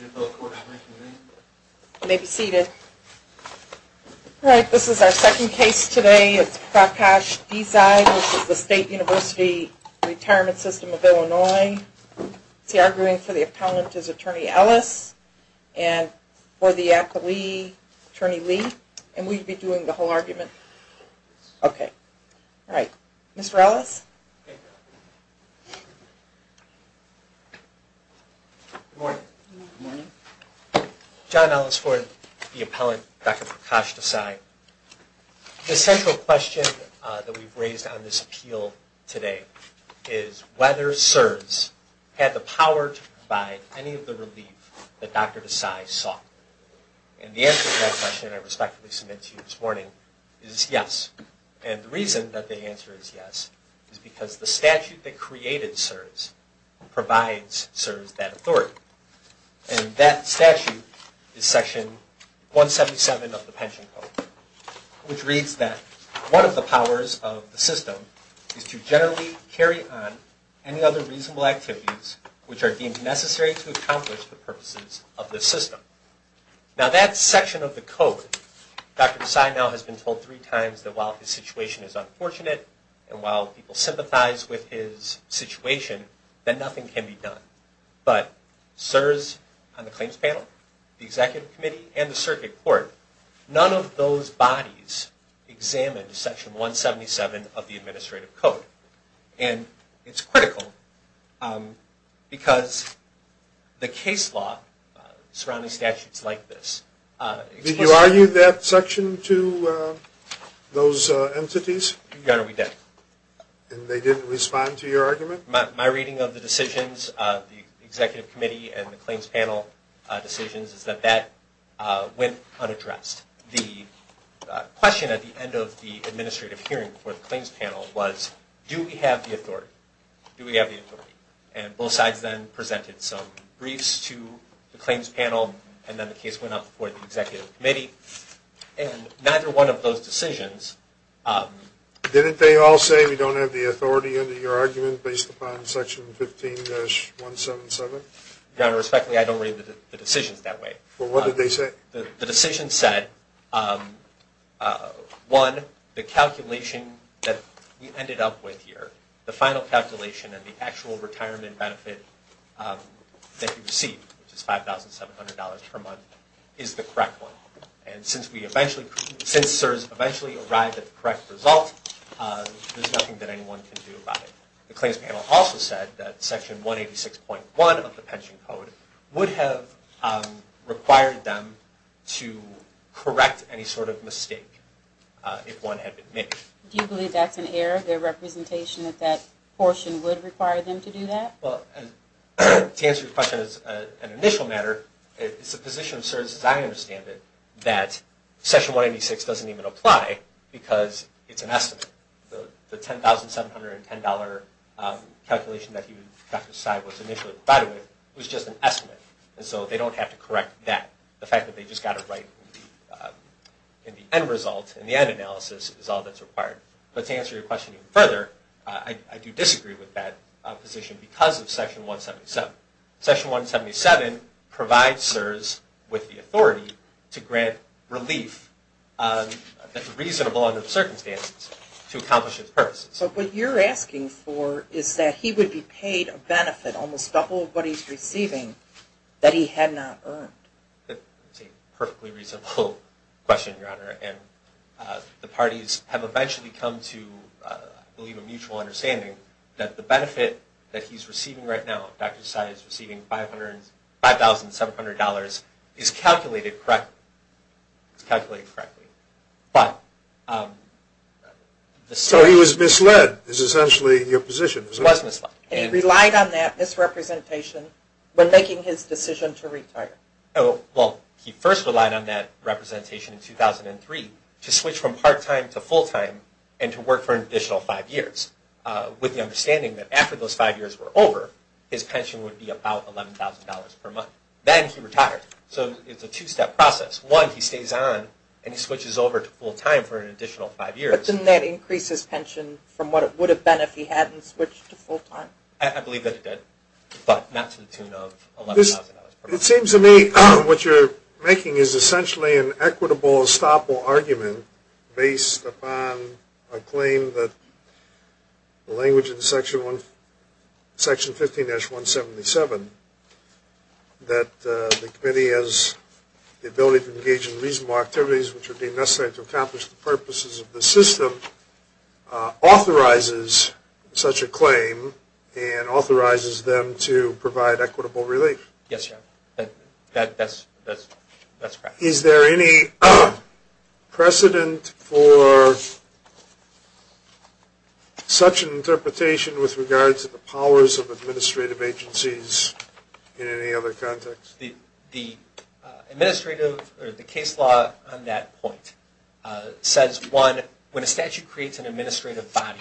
You may be seated. Alright, this is our second case today. It's Prakash Desai. This is the State University Retirement System of Illinois. He's arguing for the appellant is Attorney Ellis and for the accolade Attorney Lee. And we'd be doing the whole argument. Okay. Alright. Mr. Ellis? Good morning. Good morning. John Ellis Ford, the appellant, Dr. Prakash Desai. The central question that we've raised on this appeal today is whether CSRS had the power to provide any of the relief that Dr. Desai sought. And the answer to that question, I respectfully submit to you this morning, is yes. And the reason that the answer is yes is because the statute that created CSRS provides CSRS that authority. And that statute is section 177 of the pension code, which reads that one of the powers of the system is to generally carry on any other reasonable activities which are deemed necessary to accomplish the purposes of the system. Now that section of the code, Dr. Desai now has been told three times that while his situation is good and while people sympathize with his situation, that nothing can be done. But CSRS on the claims panel, the executive committee, and the circuit court, none of those bodies examined section 177 of the administrative code. And it's critical because the case law surrounding statutes like this... Did you argue that section to those entities? Your Honor, we did. And they didn't respond to your argument? My reading of the decisions, the executive committee and the claims panel decisions, is that that went unaddressed. The question at the end of the administrative hearing for the claims panel was, do we have the authority? Do we have the authority? And both sides then presented some briefs to the claims panel and then the case went up for the decisions. Didn't they all say we don't have the authority under your argument based upon section 15-177? Your Honor, respectfully, I don't read the decisions that way. Well, what did they say? The decisions said, one, the calculation that we ended up with here, the final calculation and the actual retirement benefit that you received, which is $5,700 per month, is the correct one. And since we eventually arrived at the correct result, there's nothing that anyone can do about it. The claims panel also said that section 186.1 of the pension code would have required them to correct any sort of mistake if one had been made. Do you believe that's an error? Their representation at that portion would require them to do that? Well, to answer your question as an initial matter, it's the position of section 186 doesn't even apply because it's an estimate. The $10,710 calculation that Dr. Seib was initially provided with was just an estimate. And so they don't have to correct that. The fact that they just got it right in the end result, in the end analysis, is all that's required. But to answer your question even further, I do disagree with that position because of section 177. Section 177 provides CSRS with the relief that's reasonable under the circumstances to accomplish its purposes. But what you're asking for is that he would be paid a benefit almost double of what he's receiving that he had not earned. That's a perfectly reasonable question, Your Honor. And the parties have eventually come to, I believe, a mutual understanding that the benefit that he's receiving right now, Dr. Seib is receiving $5,700, is calculated correctly. So he was misled is essentially your position. He was misled. And he relied on that misrepresentation when making his decision to retire. Well, he first relied on that representation in 2003 to switch from part-time to full-time and to work for an additional five years with the understanding that after those five years were over, his pension would be about $11,000 per month. Then he retired. So it's a two-step process. One, he stays on and he switches over to full-time for an additional five years. But didn't that increase his pension from what it would have been if he hadn't switched to full-time? I believe that it did, but not to the tune of $11,000 per month. It seems to me what you're making is essentially an equitable, estoppel argument based upon a claim that the language in Section 15-177 that the committee has the ability to engage in reasonable activities which would be necessary to accomplish the purposes of the system authorizes such a claim and authorizes them to provide equitable relief. Yes, that's correct. Is there any precedent for such an interpretation with regard to the case law? In any other context? The case law on that point says, one, when a statute creates an administrative body,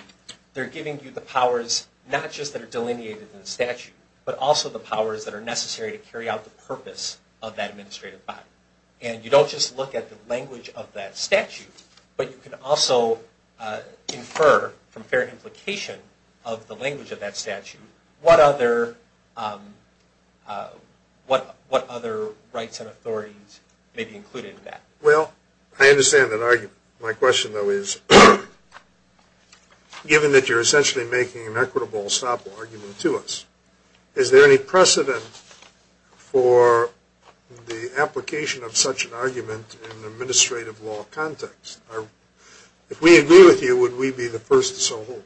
they're giving you the powers not just that are delineated in the statute, but also the powers that are necessary to carry out the purpose of that administrative body. And you don't just look at the language of that statute, but you can also infer from fair implication of the language of that statute what other rights and authorities may be included in that. Well, I understand that. My question, though, is given that you're essentially making an equitable estoppel argument to us, is there any precedent for the application of such an argument in an administrative law context? If we agree with you, would we be the first to so hold?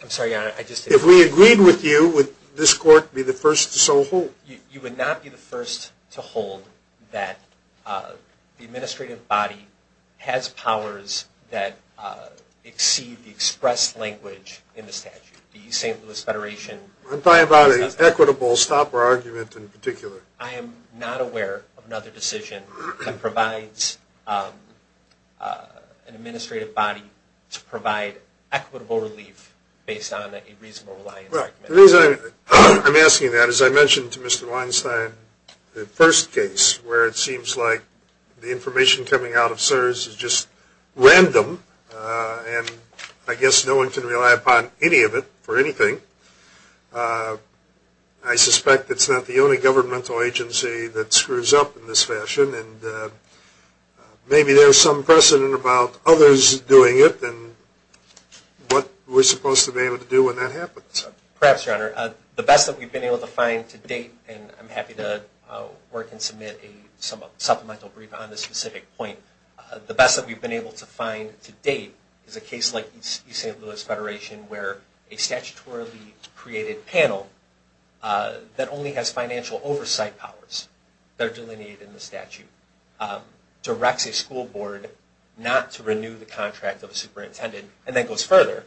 I'm sorry, Your Honor. If we agreed with you, would this court be the first to so hold? You would not be the first to hold that the administrative body has powers that exceed the expressed language in the statute, the St. Louis Federation. I'm talking about an equitable estoppel argument in particular. provide equitable relief based on a reasonable reliance argument. The reason I'm asking that is I mentioned to Mr. Weinstein the first case where it seems like the information coming out of CSRS is just random, and I guess no one can rely upon any of it for anything. I suspect it's not the only governmental agency that screws up in this fashion, and maybe there's some precedent about others doing it and what we're supposed to be able to do when that happens. Perhaps, Your Honor. The best that we've been able to find to date, and I'm happy to work and submit a supplemental brief on this specific point, the best that we've been able to find to date is a case like the St. Louis Federation where a statutorily created panel that only has financial oversight powers that are delineated in the statute, directs a school board not to renew the contract of a superintendent, and then goes further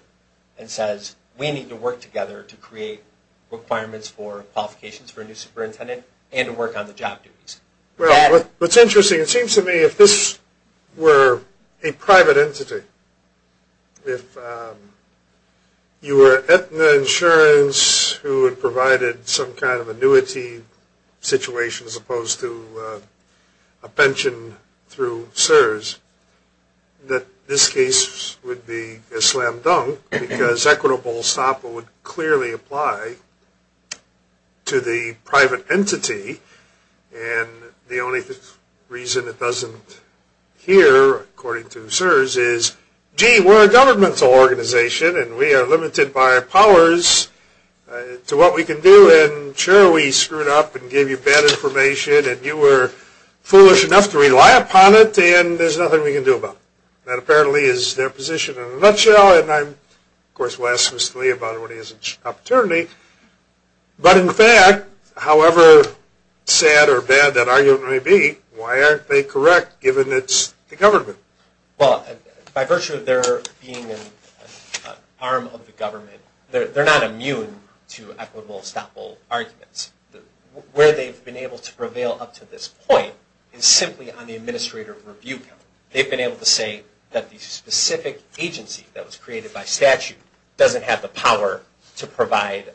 and says, we need to work together to create requirements for qualifications for a new superintendent and to work on the job duties. Well, what's interesting, it seems to me if this were a private entity, if you were Aetna Insurance who had provided some kind of annuity situation as opposed to a pension through CSRS, that this case would be a slam dunk because equitable SOPA would clearly apply to the private entity, and the only reason it doesn't here, according to CSRS, is, gee, we're a governmental organization and we are limited by our powers to what we can do, and sure, we screwed up and gave you bad information and you were foolish enough to rely upon it, and there's nothing we can do about it. That apparently is their position in a nutshell, and I'm, of course, going to ask Mr. Lee about it when he has an opportunity, but in fact, however sad or bad that argument may be, why aren't they correct given it's the government? Well, by virtue of their being an arm of the government, they're not immune to equitable SOPA arguments. Where they've been able to prevail up to this point is simply on the administrator review count. They've been able to say that the specific agency that was created by the government doesn't have the power to provide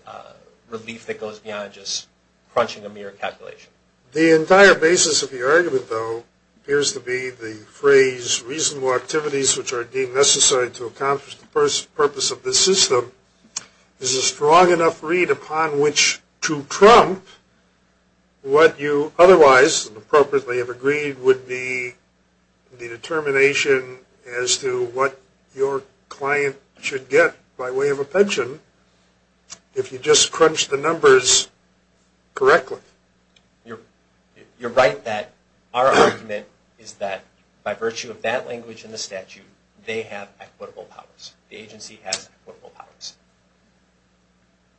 relief that goes beyond just crunching a mere calculation. The entire basis of the argument, though, appears to be the phrase reasonable activities which are deemed necessary to accomplish the purpose of this system is a strong enough read upon which to trump what you otherwise, appropriately, have agreed would be the determination as to what your client should get by way of a pension if you just crunch the numbers correctly. You're right that our argument is that by virtue of that language in the statute, they have equitable powers. The agency has equitable powers.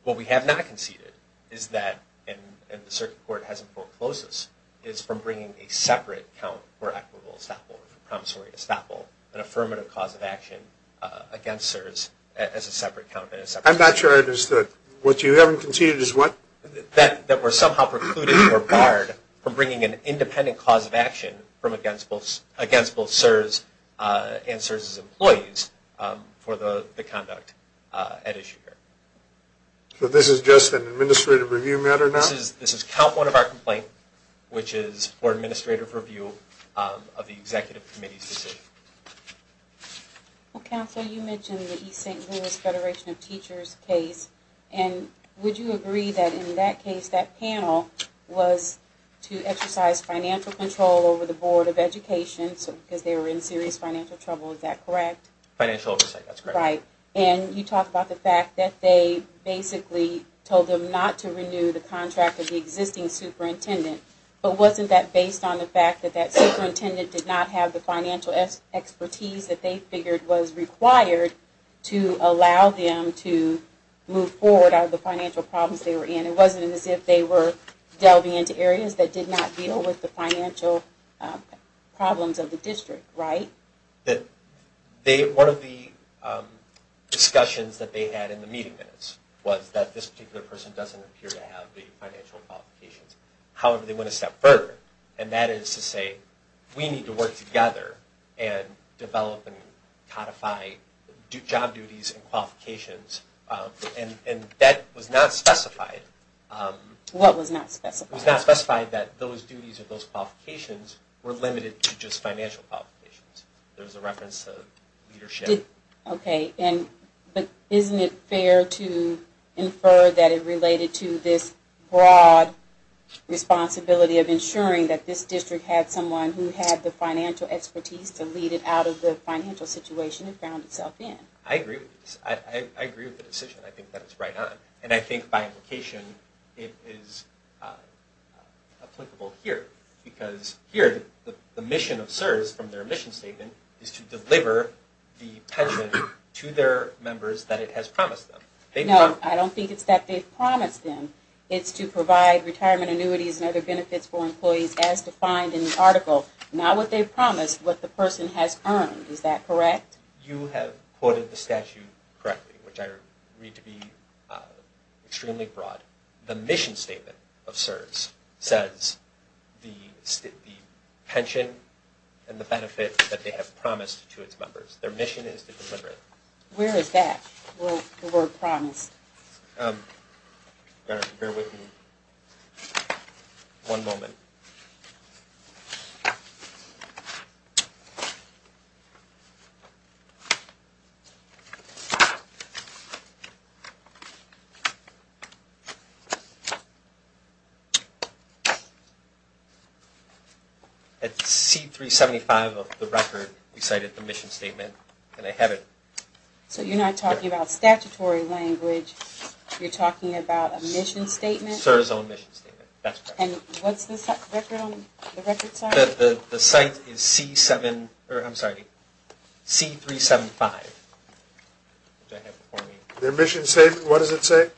What we have not conceded is that, and the circuit court hasn't foreclosed this, is from bringing a separate count for equitable estoppel, an affirmative cause of action against CSRS as a separate count. I'm not sure I understood. What you haven't conceded is what? That we're somehow precluded or barred from bringing an independent cause of action against both CSRS and CSRS's employees for the conduct at issue. So this is just an administrative review matter now? This is count one of our complaint, which is for administrative review of the executive committee's decision. Counsel, you mentioned the East St. Louis Federation of Teachers case. Would you agree that in that case, that panel was to exercise financial control over the Board of Education because they were in serious financial trouble, is that correct? Financial oversight, that's correct. Right. You talked about the fact that they basically told them not to renew the contract of the existing superintendent, but wasn't that based on the fact that superintendent did not have the financial expertise that they figured was required to allow them to move forward out of the financial problems they were in? It wasn't as if they were delving into areas that did not deal with the financial problems of the district, right? One of the discussions that they had in the meeting minutes was that this particular person doesn't appear to have the financial qualifications. However, they went a step further, and that is to say, we need to work together and develop and codify job duties and qualifications, and that was not specified. What was not specified? It was not specified that those duties or those qualifications were limited to just financial qualifications. There was a reference to leadership. Okay, but isn't it fair to infer that it related to this broad responsibility of ensuring that this district had someone who had the financial expertise to lead it out of the financial situation it found itself in? I agree with this. I agree with the decision. I think that is right on, and I think by implication it is applicable here, because here the mission of CSRS, from their mission statement, is to deliver the pension to their members that it has promised them. No, I don't think it is that they have promised them. It is to provide retirement annuities and other benefits for employees as defined in the article, not what they promised, but what the person has earned. Is that correct? You have quoted the statute correctly, which I read to be extremely broad. The mission statement of CSRS says the pension and the benefit that they have promised to its members. Their mission is to deliver it. Where is that, the word promised? Bear with me one moment. At C-375 of the record we cited the mission statement, and I have it. So you are not talking about statutory language. You are talking about a mission statement? CSRS' own mission statement. What is the record? The site is C-375. Their mission statement, what does it say?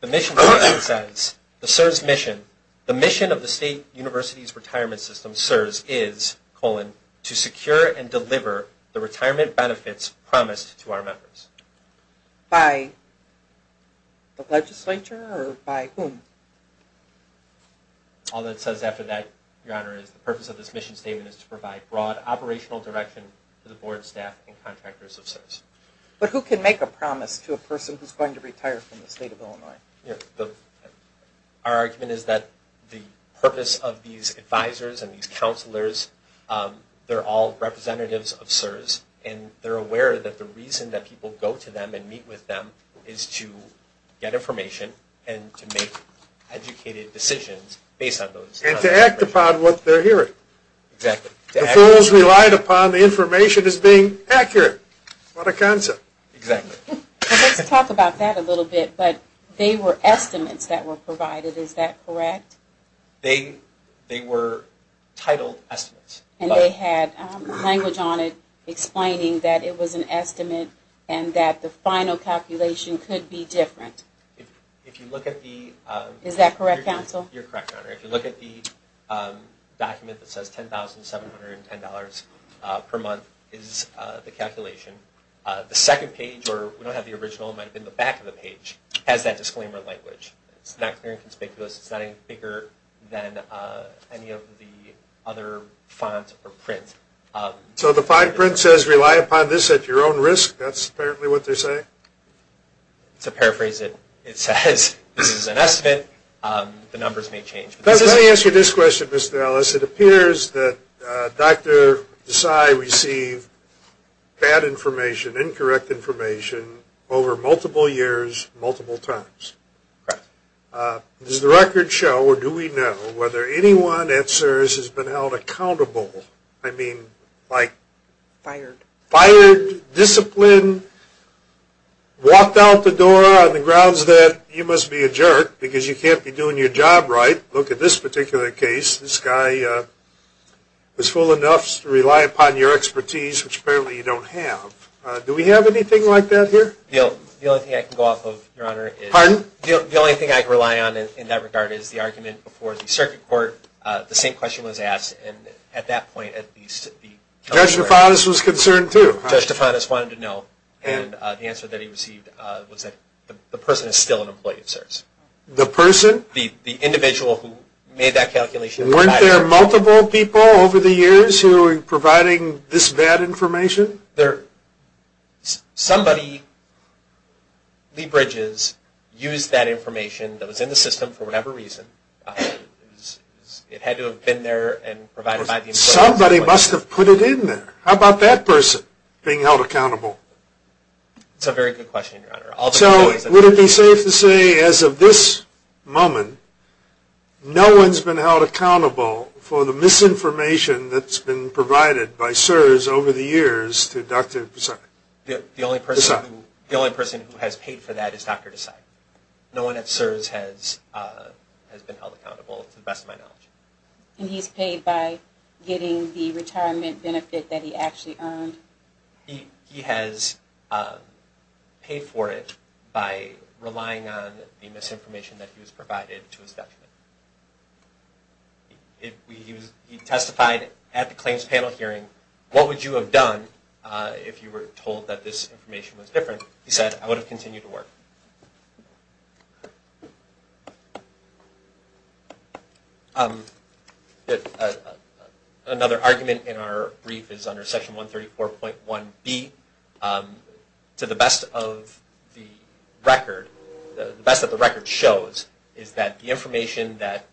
The mission statement says the CSRS mission, the mission of the State University's retirement system, CSRS is, colon, to secure and deliver the retirement benefits promised to our members. By the legislature or by whom? All it says after that, Your Honor, is the purpose of this mission statement is to provide broad operational direction to the board, staff, and contractors of CSRS. But who can make a promise to a person who is going to retire from the State of Illinois? Our argument is that the purpose of these advisors and these counselors, they are all representatives of CSRS, and they are aware that the reason that people go to them and meet with them is to get information and to make educated decisions based on those. And to act upon what they are hearing. Exactly. The fools relied upon the information as being accurate. What a concept. Exactly. Let's talk about that a little bit, but they were estimates that were provided, is that correct? They were titled estimates. And they had language on it explaining that it was an estimate and that the final calculation could be different. Is that correct, counsel? You're correct, Your Honor. If you look at the document that says $10,710 per month is the calculation. The second page, or we don't have the original, it might have been the back of the page, has that disclaimer language. It's not clear and conspicuous. It's not any bigger than any of the other fonts or prints. So the fine print says rely upon this at your own risk. That's apparently what they're saying? To paraphrase it, it says this is an estimate. The numbers may change. That doesn't answer this question, Mr. Ellis. It appears that Dr. Desai received bad information, incorrect information, over multiple years, multiple times. Correct. Does the record show, or do we know, whether anyone at CSRS has been held accountable? I mean, like fired, disciplined, walked out the door on the grounds that you must be a jerk because you can't be doing your job right. Look at this particular case. This guy was full enough to rely upon your expertise, which apparently you don't have. Do we have anything like that here? The only thing I can go off of, Your Honor, is the only thing I can rely on in that regard is the argument before the circuit court. The same question was asked. And at that point, at least the Judge DeFantis was concerned, too. Judge DeFantis wanted to know. And the answer that he received was that the person is still an employee of CSRS. The person? The individual who made that calculation. Weren't there multiple people over the years who were providing this bad information? Somebody, Lee Bridges, used that information that was in the system for whatever reason. It had to have been there and provided by the employer. Somebody must have put it in there. How about that person being held accountable? That's a very good question, Your Honor. So would it be safe to say, as of this moment, no one's been held accountable for the misinformation that's been provided by CSRS over the years to Dr. Desai? The only person who has paid for that is Dr. Desai. No one at CSRS has been held accountable, to the best of my knowledge. And he's paid by getting the retirement benefit that he actually earned? He has paid for it by relying on the misinformation that he was provided to his detriment. He testified at the claims panel hearing. What would you have done if you were told that this information was different? He said, I would have continued to work. Another argument in our brief is under Section 134.1b. To the best of the record, the best that the record shows is that the information that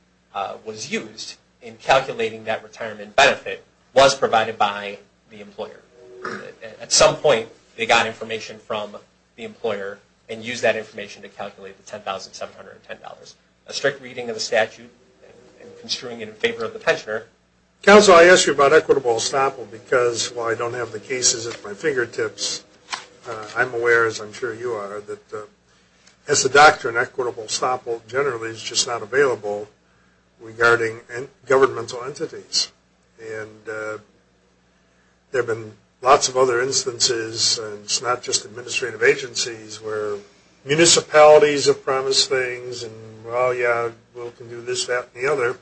was used in calculating that retirement benefit was provided by the employer. At some point, they got information from the employer and used that information to calculate the $10,710. A strict reading of the statute and construing it in favor of the pensioner. Counsel, I asked you about equitable estoppel because, while I don't have the cases at my fingertips, I'm aware, as I'm sure you are, that as a governmental entities. And there have been lots of other instances, and it's not just administrative agencies, where municipalities have promised things and, well, yeah, we can do this, that, and the other,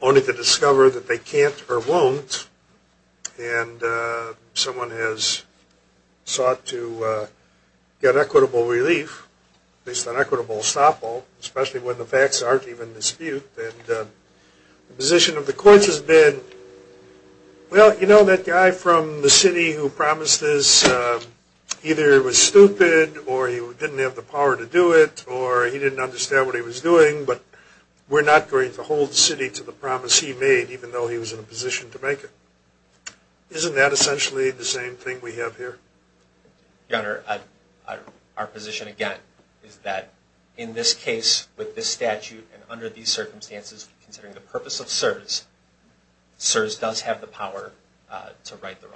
only to discover that they can't or won't. And someone has sought to get equitable relief based on equitable estoppel, especially when the facts aren't even in dispute. And the position of the courts has been, well, you know, that guy from the city who promised this either was stupid or he didn't have the power to do it or he didn't understand what he was doing, but we're not going to hold the city to the promise he made, even though he was in a position to make it. Isn't that essentially the same thing we have here? Your Honor, our position, again, is that in this case, with this statute, and under these circumstances, considering the purpose of CSRS, CSRS does have the power to right the wrong.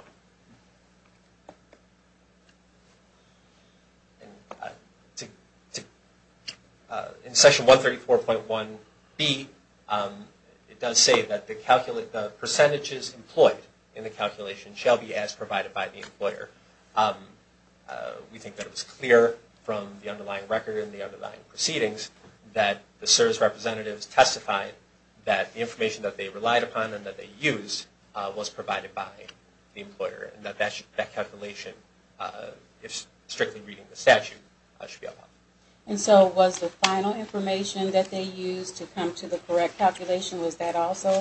In Section 134.1b, it does say that the percentages employed in the employer, we think that it was clear from the underlying record and the underlying proceedings that the CSRS representatives testified that the information that they relied upon and that they used was provided by the employer, and that that calculation, strictly reading the statute, should be allowed. And so was the final information that they used to come to the correct calculation, was that also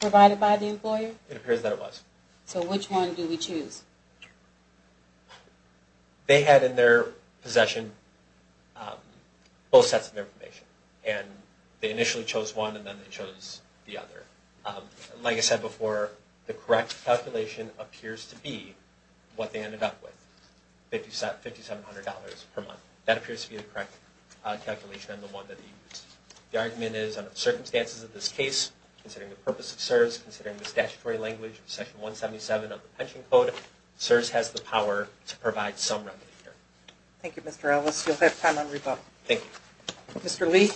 provided by the employer? It appears that it was. So which one do we choose? They had in their possession both sets of information, and they initially chose one and then they chose the other. Like I said before, the correct calculation appears to be what they ended up with, $5,700 per month. That appears to be the correct calculation and the one that they used. The argument is, under the circumstances of this case, considering the statutory language of Section 177 of the pension code, CSRS has the power to provide some remedy here. Thank you, Mr. Ellis. You'll have time on rebuttal. Thank you. Mr. Lee?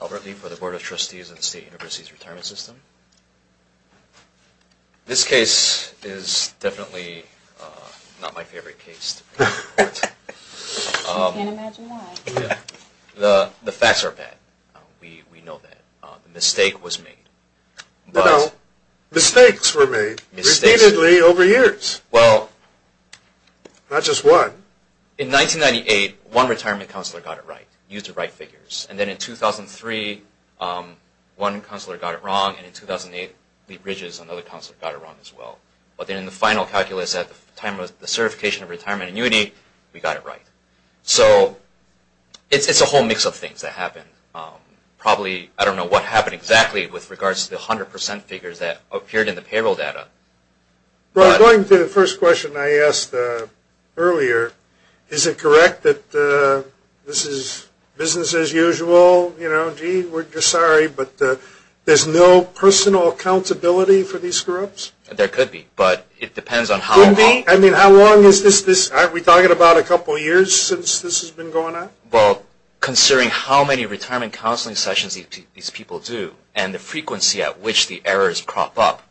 Albert Lee for the Board of Trustees of the State University's Retirement System. This case is definitely not my favorite case. I can't imagine why. The facts are bad. We know that. The mistake was made. Mistakes were made repeatedly over years. Well, not just one. In 1998, one retirement counselor got it right, used the right figures. And then in 2003, one counselor got it wrong, and in 2008, Lee Bridges, another counselor, got it wrong as well. But then in the final calculus at the time of the certification of retirement annuity, we got it right. So it's a whole mix of things that happened. Probably, I don't know what happened exactly with regards to the 100% figures that appeared in the payroll data. Going to the first question I asked earlier, is it correct that this is business as usual? You know, gee, we're sorry, but there's no personal accountability for these screw-ups? There could be, but it depends on how long. Could be? I mean, how long is this? Aren't we talking about a couple years since this has been going on? Well, considering how many retirement counseling sessions these people do and the frequency at which the errors crop up,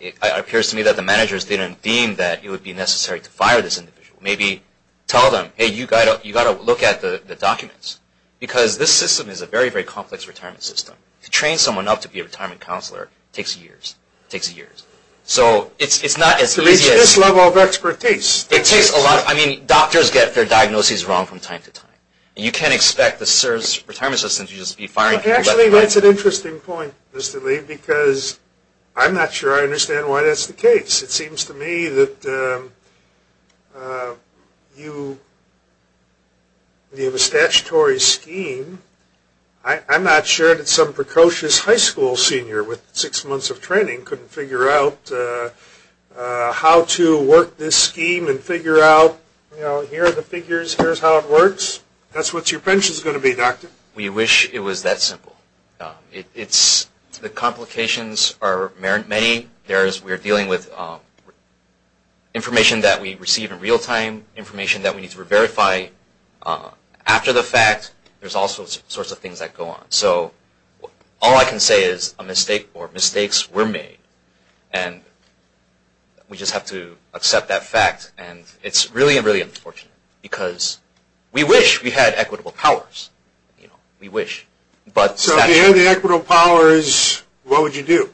it appears to me that the managers didn't deem that it would be necessary to fire this individual. Maybe tell them, hey, you've got to look at the documents. Because this system is a very, very complex retirement system. To train someone up to be a retirement counselor takes years. It takes years. So it's not as easy as... I mean, doctors get their diagnoses wrong from time to time. You can't expect the CSRS retirement system to just be firing people. Actually, that's an interesting point, Mr. Lee, because I'm not sure I understand why that's the case. It seems to me that you have a statutory scheme. I'm not sure that some precocious high school senior with six months of Here are the figures. Here's how it works. That's what your pension is going to be, doctor. We wish it was that simple. The complications are many. We're dealing with information that we receive in real time, information that we need to verify after the fact. There's all sorts of things that go on. So all I can say is a mistake or mistakes were made, and we just have to accept that fact. And it's really, really unfortunate, because we wish we had equitable powers. We wish. So if you had equitable powers, what would you do?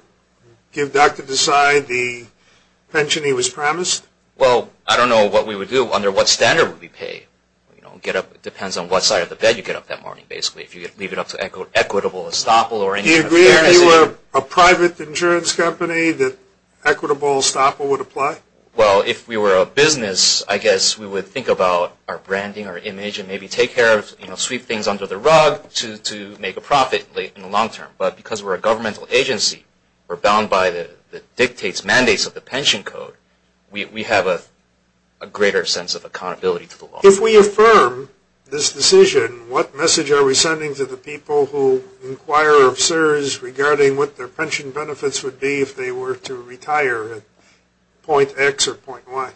Give Dr. Desai the pension he was promised? Well, I don't know what we would do. Under what standard would we pay? It depends on what side of the bed you get up that morning, basically, if you leave it up to equitable estoppel or income. Do you agree if you were a private insurance company that equitable estoppel would apply? Well, if we were a business, I guess we would think about our branding, our image, and maybe take care of, you know, sweep things under the rug to make a profit in the long term. But because we're a governmental agency, we're bound by the dictates, mandates of the pension code, we have a greater sense of accountability to the law. If we affirm this decision, what message are we sending to the people who inquire of CSRS regarding what their pension benefits would be if they were to retire at point X or point Y?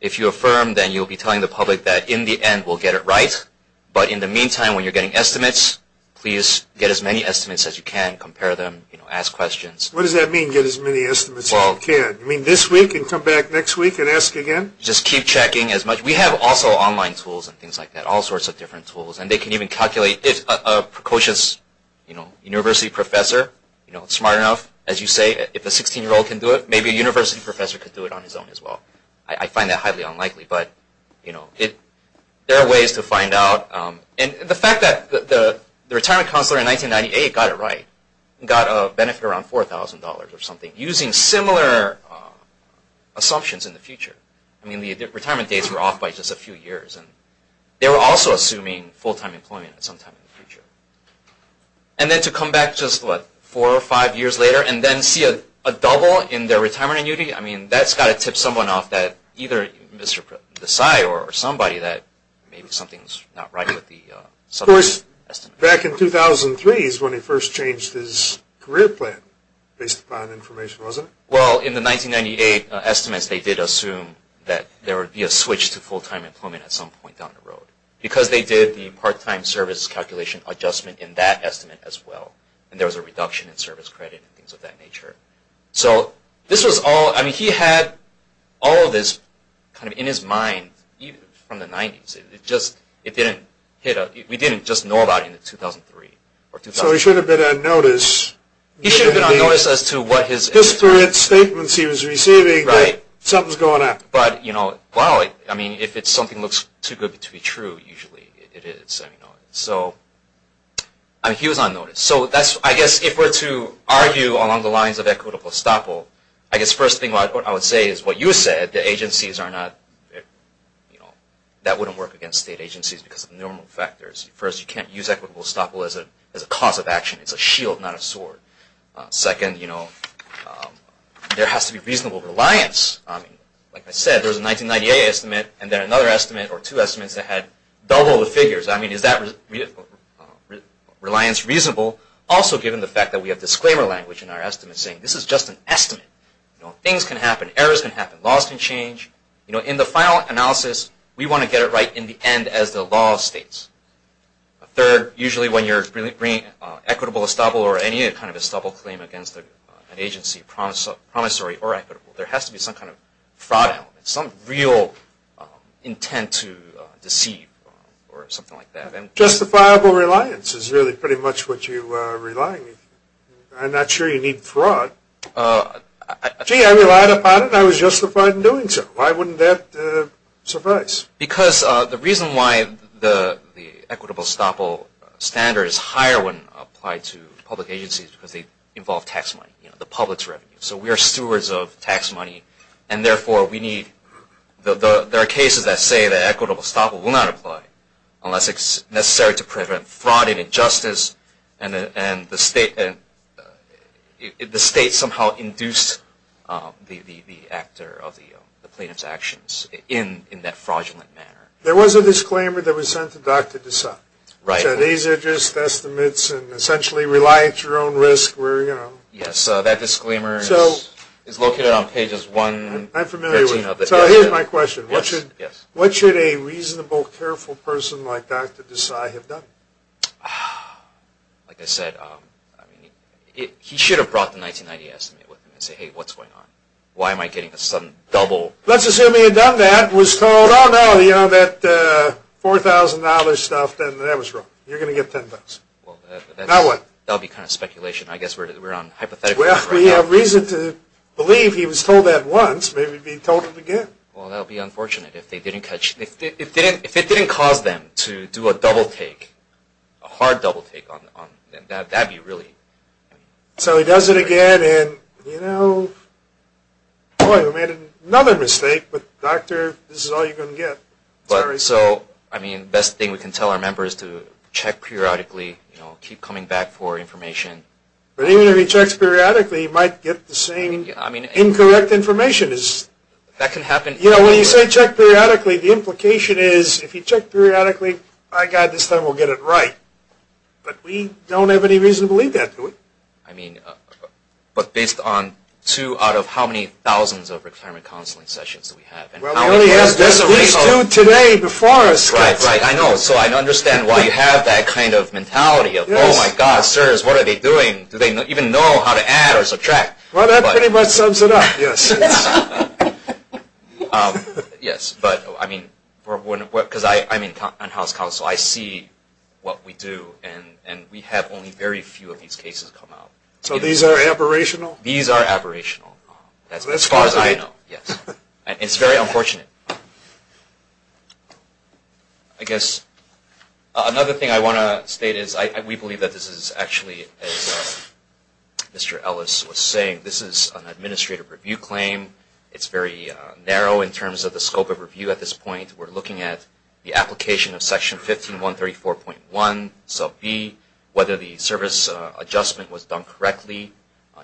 If you affirm, then you'll be telling the public that in the end we'll get it right. But in the meantime, when you're getting estimates, please get as many estimates as you can, compare them, ask questions. What does that mean, get as many estimates as you can? You mean this week and come back next week and ask again? Just keep checking as much. We have also online tools and things like that, all sorts of different tools. And they can even calculate if a precocious, you know, university professor, you know, smart enough, as you say, if a 16-year-old can do it, maybe a university professor could do it on his own as well. I find that highly unlikely. But, you know, there are ways to find out. And the fact that the retirement counselor in 1998 got it right, got a benefit around $4,000 or something, using similar assumptions in the future. I mean, the retirement dates were off by just a few years. And they were also assuming full-time employment sometime in the future. And then to come back just, what, four or five years later and then see a double in their retirement annuity? I mean, that's got to tip someone off, either Mr. Desai or somebody, that maybe something's not right with the estimates. Of course, back in 2003 is when he first changed his career plan, based upon information, wasn't it? Well, in the 1998 estimates, they did assume that there would be a switch to full-time employment at some point down the road, because they did the part-time service calculation adjustment in that estimate as well. And there was a reduction in service credit and things of that nature. So this was all, I mean, he had all of this kind of in his mind from the 90s. It just, it didn't hit a, we didn't just know about it in 2003. So he should have been on notice. He should have been on notice as to what his... Disparate statements he was receiving that something's going on. Right. But, you know, well, I mean, if it's something looks too good to be true, usually it is, you know. So, I mean, he was on notice. So that's, I guess, if we're to argue along the lines of equitable estoppel, I guess the first thing I would say is what you said, the agencies are not, you know, that wouldn't work against state agencies because of the normal factors. First, you can't use equitable estoppel as a cause of action. It's a shield, not a sword. Second, you know, there has to be reasonable reliance. I mean, like I said, there was a 1998 estimate, and then another estimate or two estimates that had double the figures. I mean, is that reliance reasonable? Also, given the fact that we have disclaimer language in our estimates saying, this is just an estimate. You know, things can happen. Errors can happen. Laws can change. You know, in the final analysis, we want to get it right in the end as the law states. Third, usually when you're bringing equitable estoppel or any kind of estoppel claim against an agency, promissory or equitable, there has to be some kind of fraud element, some real intent to deceive or something like that. Justifiable reliance is really pretty much what you rely on. I'm not sure you need fraud. Gee, I relied upon it, and I was justified in doing so. Why wouldn't that suffice? Because the reason why the equitable estoppel standard is higher when applied to public agencies is because they involve tax money, you know, the public's revenue. So we are stewards of tax money, and therefore we need – there are cases that say that equitable estoppel will not apply unless it's necessary to prevent fraud and injustice, and the state somehow induced the actor of the plaintiff's actions in that fraudulent manner. There was a disclaimer that was sent to Dr. Desai. Right. So these are just estimates and essentially rely at your own risk where, you know. Yes, that disclaimer is located on pages 1 and 13. I'm familiar with it. So here's my question. Yes, yes. What should a reasonable, careful person like Dr. Desai have done? Like I said, he should have brought the 1990 estimate with him and said, hey, what's going on? Why am I getting a sudden double? Let's assume he had done that and was told, oh, no, you know, that $4,000 stuff, then that was wrong. You're going to get $10. Now what? That would be kind of speculation. I guess we're on hypotheticals right now. Well, if we have reason to believe he was told that once, maybe he'd be told it again. Well, that would be unfortunate. If it didn't cause them to do a double take, a hard double take, that would be really. So he does it again and, you know, boy, we made another mistake, but, doctor, this is all you're going to get. Sorry. So, I mean, the best thing we can tell our members to check periodically, you know, keep coming back for information. But even if he checks periodically, he might get the same incorrect information. That can happen. You know, when you say check periodically, the implication is if you check periodically, by God, this time we'll get it right. But we don't have any reason to believe that. I mean, but based on two out of how many thousands of retirement counseling sessions do we have? Well, he only has these two today before us. Right, right, I know. So I understand why you have that kind of mentality of, oh, my God, sirs, what are they doing? Do they even know how to add or subtract? Well, that pretty much sums it up, yes. Yes, but, I mean, because I'm on House Counsel. I see what we do, and we have only very few of these cases come out. So these are aberrational? These are aberrational as far as I know, yes. It's very unfortunate. I guess another thing I want to state is we believe that this is actually, as Mr. Ellis was saying, this is an administrative review claim. It's very narrow in terms of the scope of review at this point. We're looking at the application of Section 15134.1, sub B, whether the service adjustment was done correctly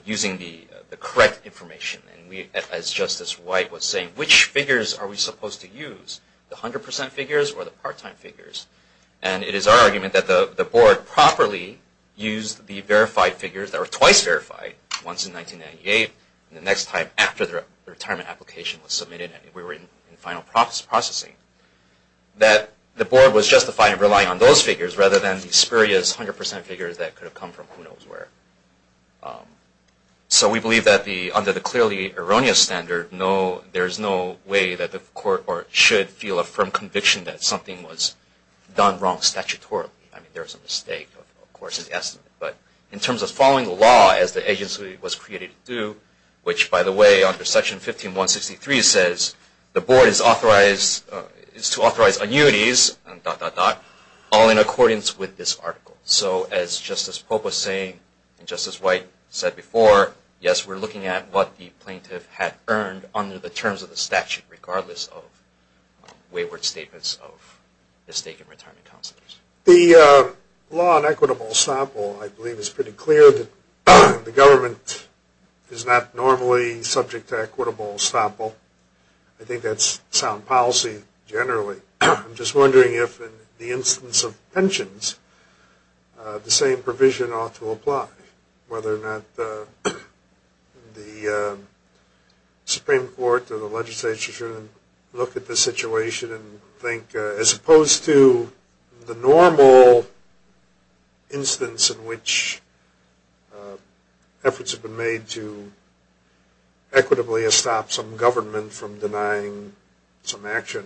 using the correct information. And we, as Justice White was saying, which figures are we supposed to use, the 100% figures or the part-time figures? And it is our argument that the Board properly used the verified figures that were twice verified, once in 1998, and the next time after the retirement application was submitted and we were in final processing, that the Board was justified in relying on those figures rather than the spurious 100% figures that could have come from who knows where. So we believe that under the clearly erroneous standard, there is no way that the Court should feel a firm conviction that something was done wrong statutorily. I mean, there is a mistake, of course, in the estimate. But in terms of following the law as the agency was created to do, which, by the way, under Section 15163 says, the Board is to authorize annuities, dot, dot, dot, all in accordance with this article. So as Justice Pope was saying, and Justice White said before, yes, we're looking at what the plaintiff had earned under the terms of the statute, regardless of wayward statements of mistaken retirement counselors. The law on equitable estoppel, I believe, is pretty clear that the government is not normally subject to equitable estoppel. I think that's sound policy generally. I'm just wondering if, in the instance of pensions, the same provision ought to apply, whether or not the Supreme Court or the legislature should look at the situation and think, as opposed to the normal instance in which efforts have been made to equitably estop some government from denying some action.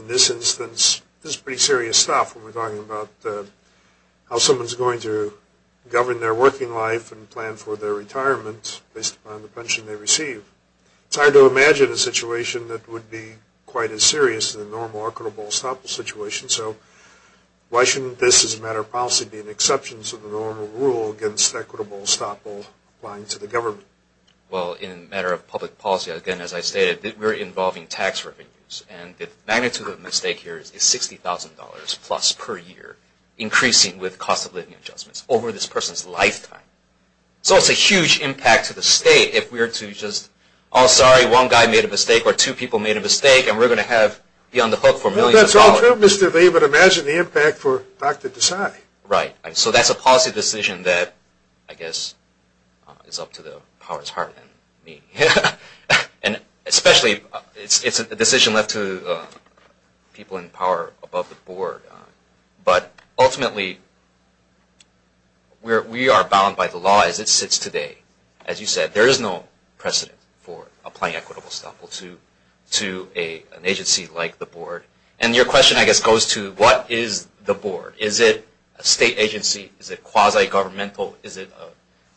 In this instance, this is pretty serious stuff when we're talking about how someone's going to govern their working life and plan for their retirement based upon the pension they receive. It's hard to imagine a situation that would be quite as serious as a normal equitable estoppel situation. So why shouldn't this, as a matter of policy, be an exception to the normal rule against equitable estoppel applying to the government? Well, in a matter of public policy, again, as I stated, we're involving tax revenues. And the magnitude of the mistake here is $60,000-plus per year increasing with cost-of-living adjustments over this person's lifetime. So it's a huge impact to the state if we were to just, oh, sorry, one guy made a mistake or two people made a mistake, and we're going to be on the hook for millions of dollars. Well, that's all true, Mr. Lee, but imagine the impact for Dr. Desai. Right. So that's a policy decision that, I guess, is up to the power's heart and me. Especially, it's a decision left to people in power above the board. But ultimately, we are bound by the law as it sits today. As you said, there is no precedent for applying equitable estoppel to an agency like the board. And your question, I guess, goes to what is the board? Is it a state agency? Is it quasi-governmental? Is it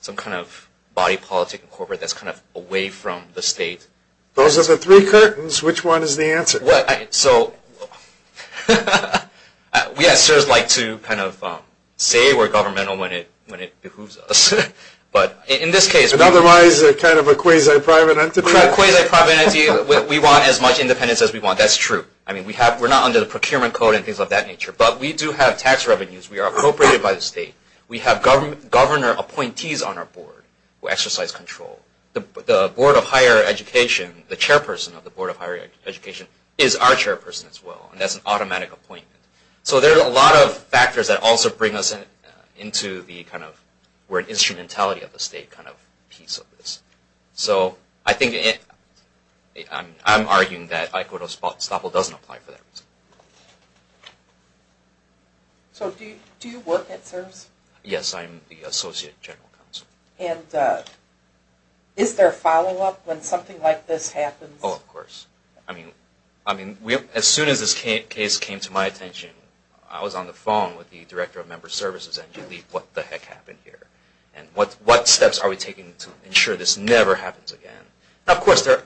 some kind of body politic and corporate that's kind of away from the state? Those are the three curtains. Which one is the answer? So we assessors like to kind of say we're governmental when it behooves us. But in this case, we're not. Otherwise, they're kind of a quasi-private entity. We're a quasi-private entity. We want as much independence as we want. That's true. I mean, we're not under the procurement code and things of that nature. But we do have tax revenues. We are appropriated by the state. We have governor appointees on our board who exercise control. The Board of Higher Education, the chairperson of the Board of Higher Education, is our chairperson as well. And that's an automatic appointment. So there are a lot of factors that also bring us into the kind of we're an instrumentality of the state kind of piece of this. So I think I'm arguing that equitable estoppel doesn't apply for that reason. So do you work at SERVS? Yes, I'm the Associate General Counsel. And is there follow-up when something like this happens? Oh, of course. I mean, as soon as this case came to my attention, I was on the phone with the Director of Member Services and you leave what the heck happened here. And what steps are we taking to ensure this never happens again? Of course, there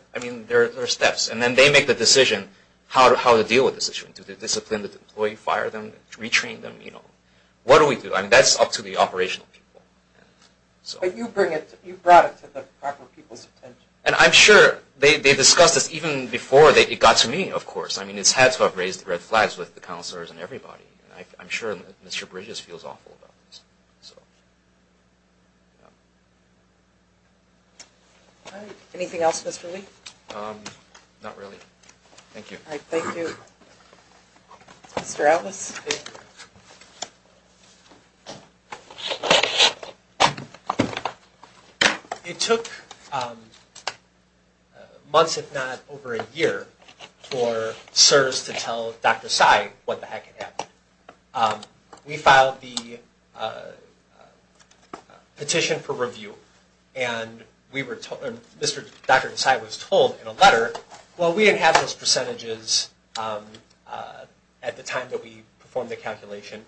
are steps. And then they make the decision how to deal with this issue. Do they discipline the employee, fire them, retrain them? What do we do? I mean, that's up to the operational people. But you brought it to the proper people's attention. And I'm sure they discussed this even before it got to me, of course. I mean, it's had to have raised red flags with the counselors and everybody. I'm sure Mr. Bridges feels awful about this. Anything else, Mr. Lee? Not really. Thank you. All right, thank you. Mr. Ellis? It took months, if not over a year, for CSRS to tell Dr. Sai what the heck happened. We filed the petition for review. And Dr. Sai was told in a letter, well, we didn't have those percentages at the time that we performed the calculation.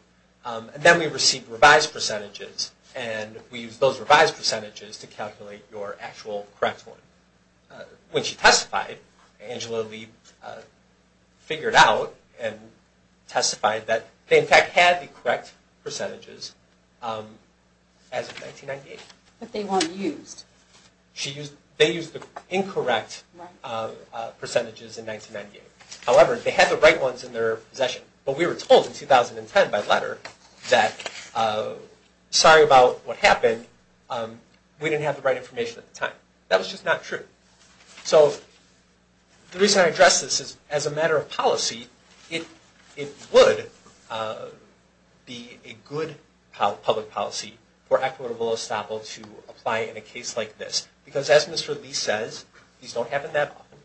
And then we received revised percentages. And we used those revised percentages to calculate your actual correct one. When she testified, Angela Lee figured out and testified that they, in fact, had the correct percentages as of 1998. But they weren't used. They used the incorrect percentages in 1998. However, they had the right ones in their possession. But we were told in 2010 by letter that, sorry about what happened, we didn't have the right information at the time. That was just not true. So the reason I address this is as a matter of policy, it would be a good public policy for Actuator Willestoppel to apply in a case like this. Because as Mr. Lee says, these don't happen that often.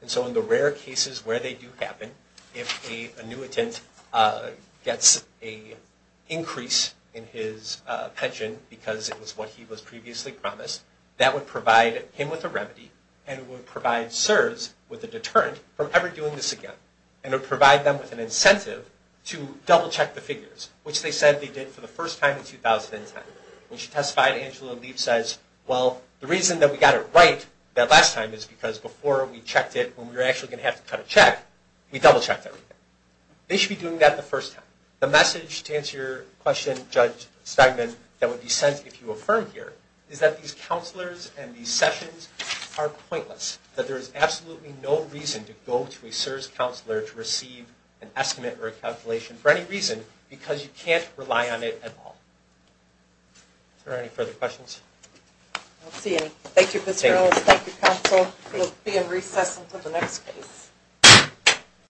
And so in the rare cases where they do happen, if an annuitant gets an increase in his pension because it was what he was previously promised, that would provide him with a remedy and would provide CSRS with a deterrent from ever doing this again. And it would provide them with an incentive to double-check the figures, which they said they did for the first time in 2010. When she testified, Angela Lee says, well, the reason that we got it right that last time is because before we checked it, when we were actually going to have to cut a check, we double-checked everything. They should be doing that the first time. The message to answer your question, Judge Steinman, that would be sent if you affirm here, is that these counselors and these sessions are pointless. That there is absolutely no reason to go to a CSRS counselor to receive an estimate or a calculation for any reason, because you can't rely on it at all. Are there any further questions? I don't see any. Thank you, Mr. Willis. Thank you, counsel. We'll begin recess until the next case.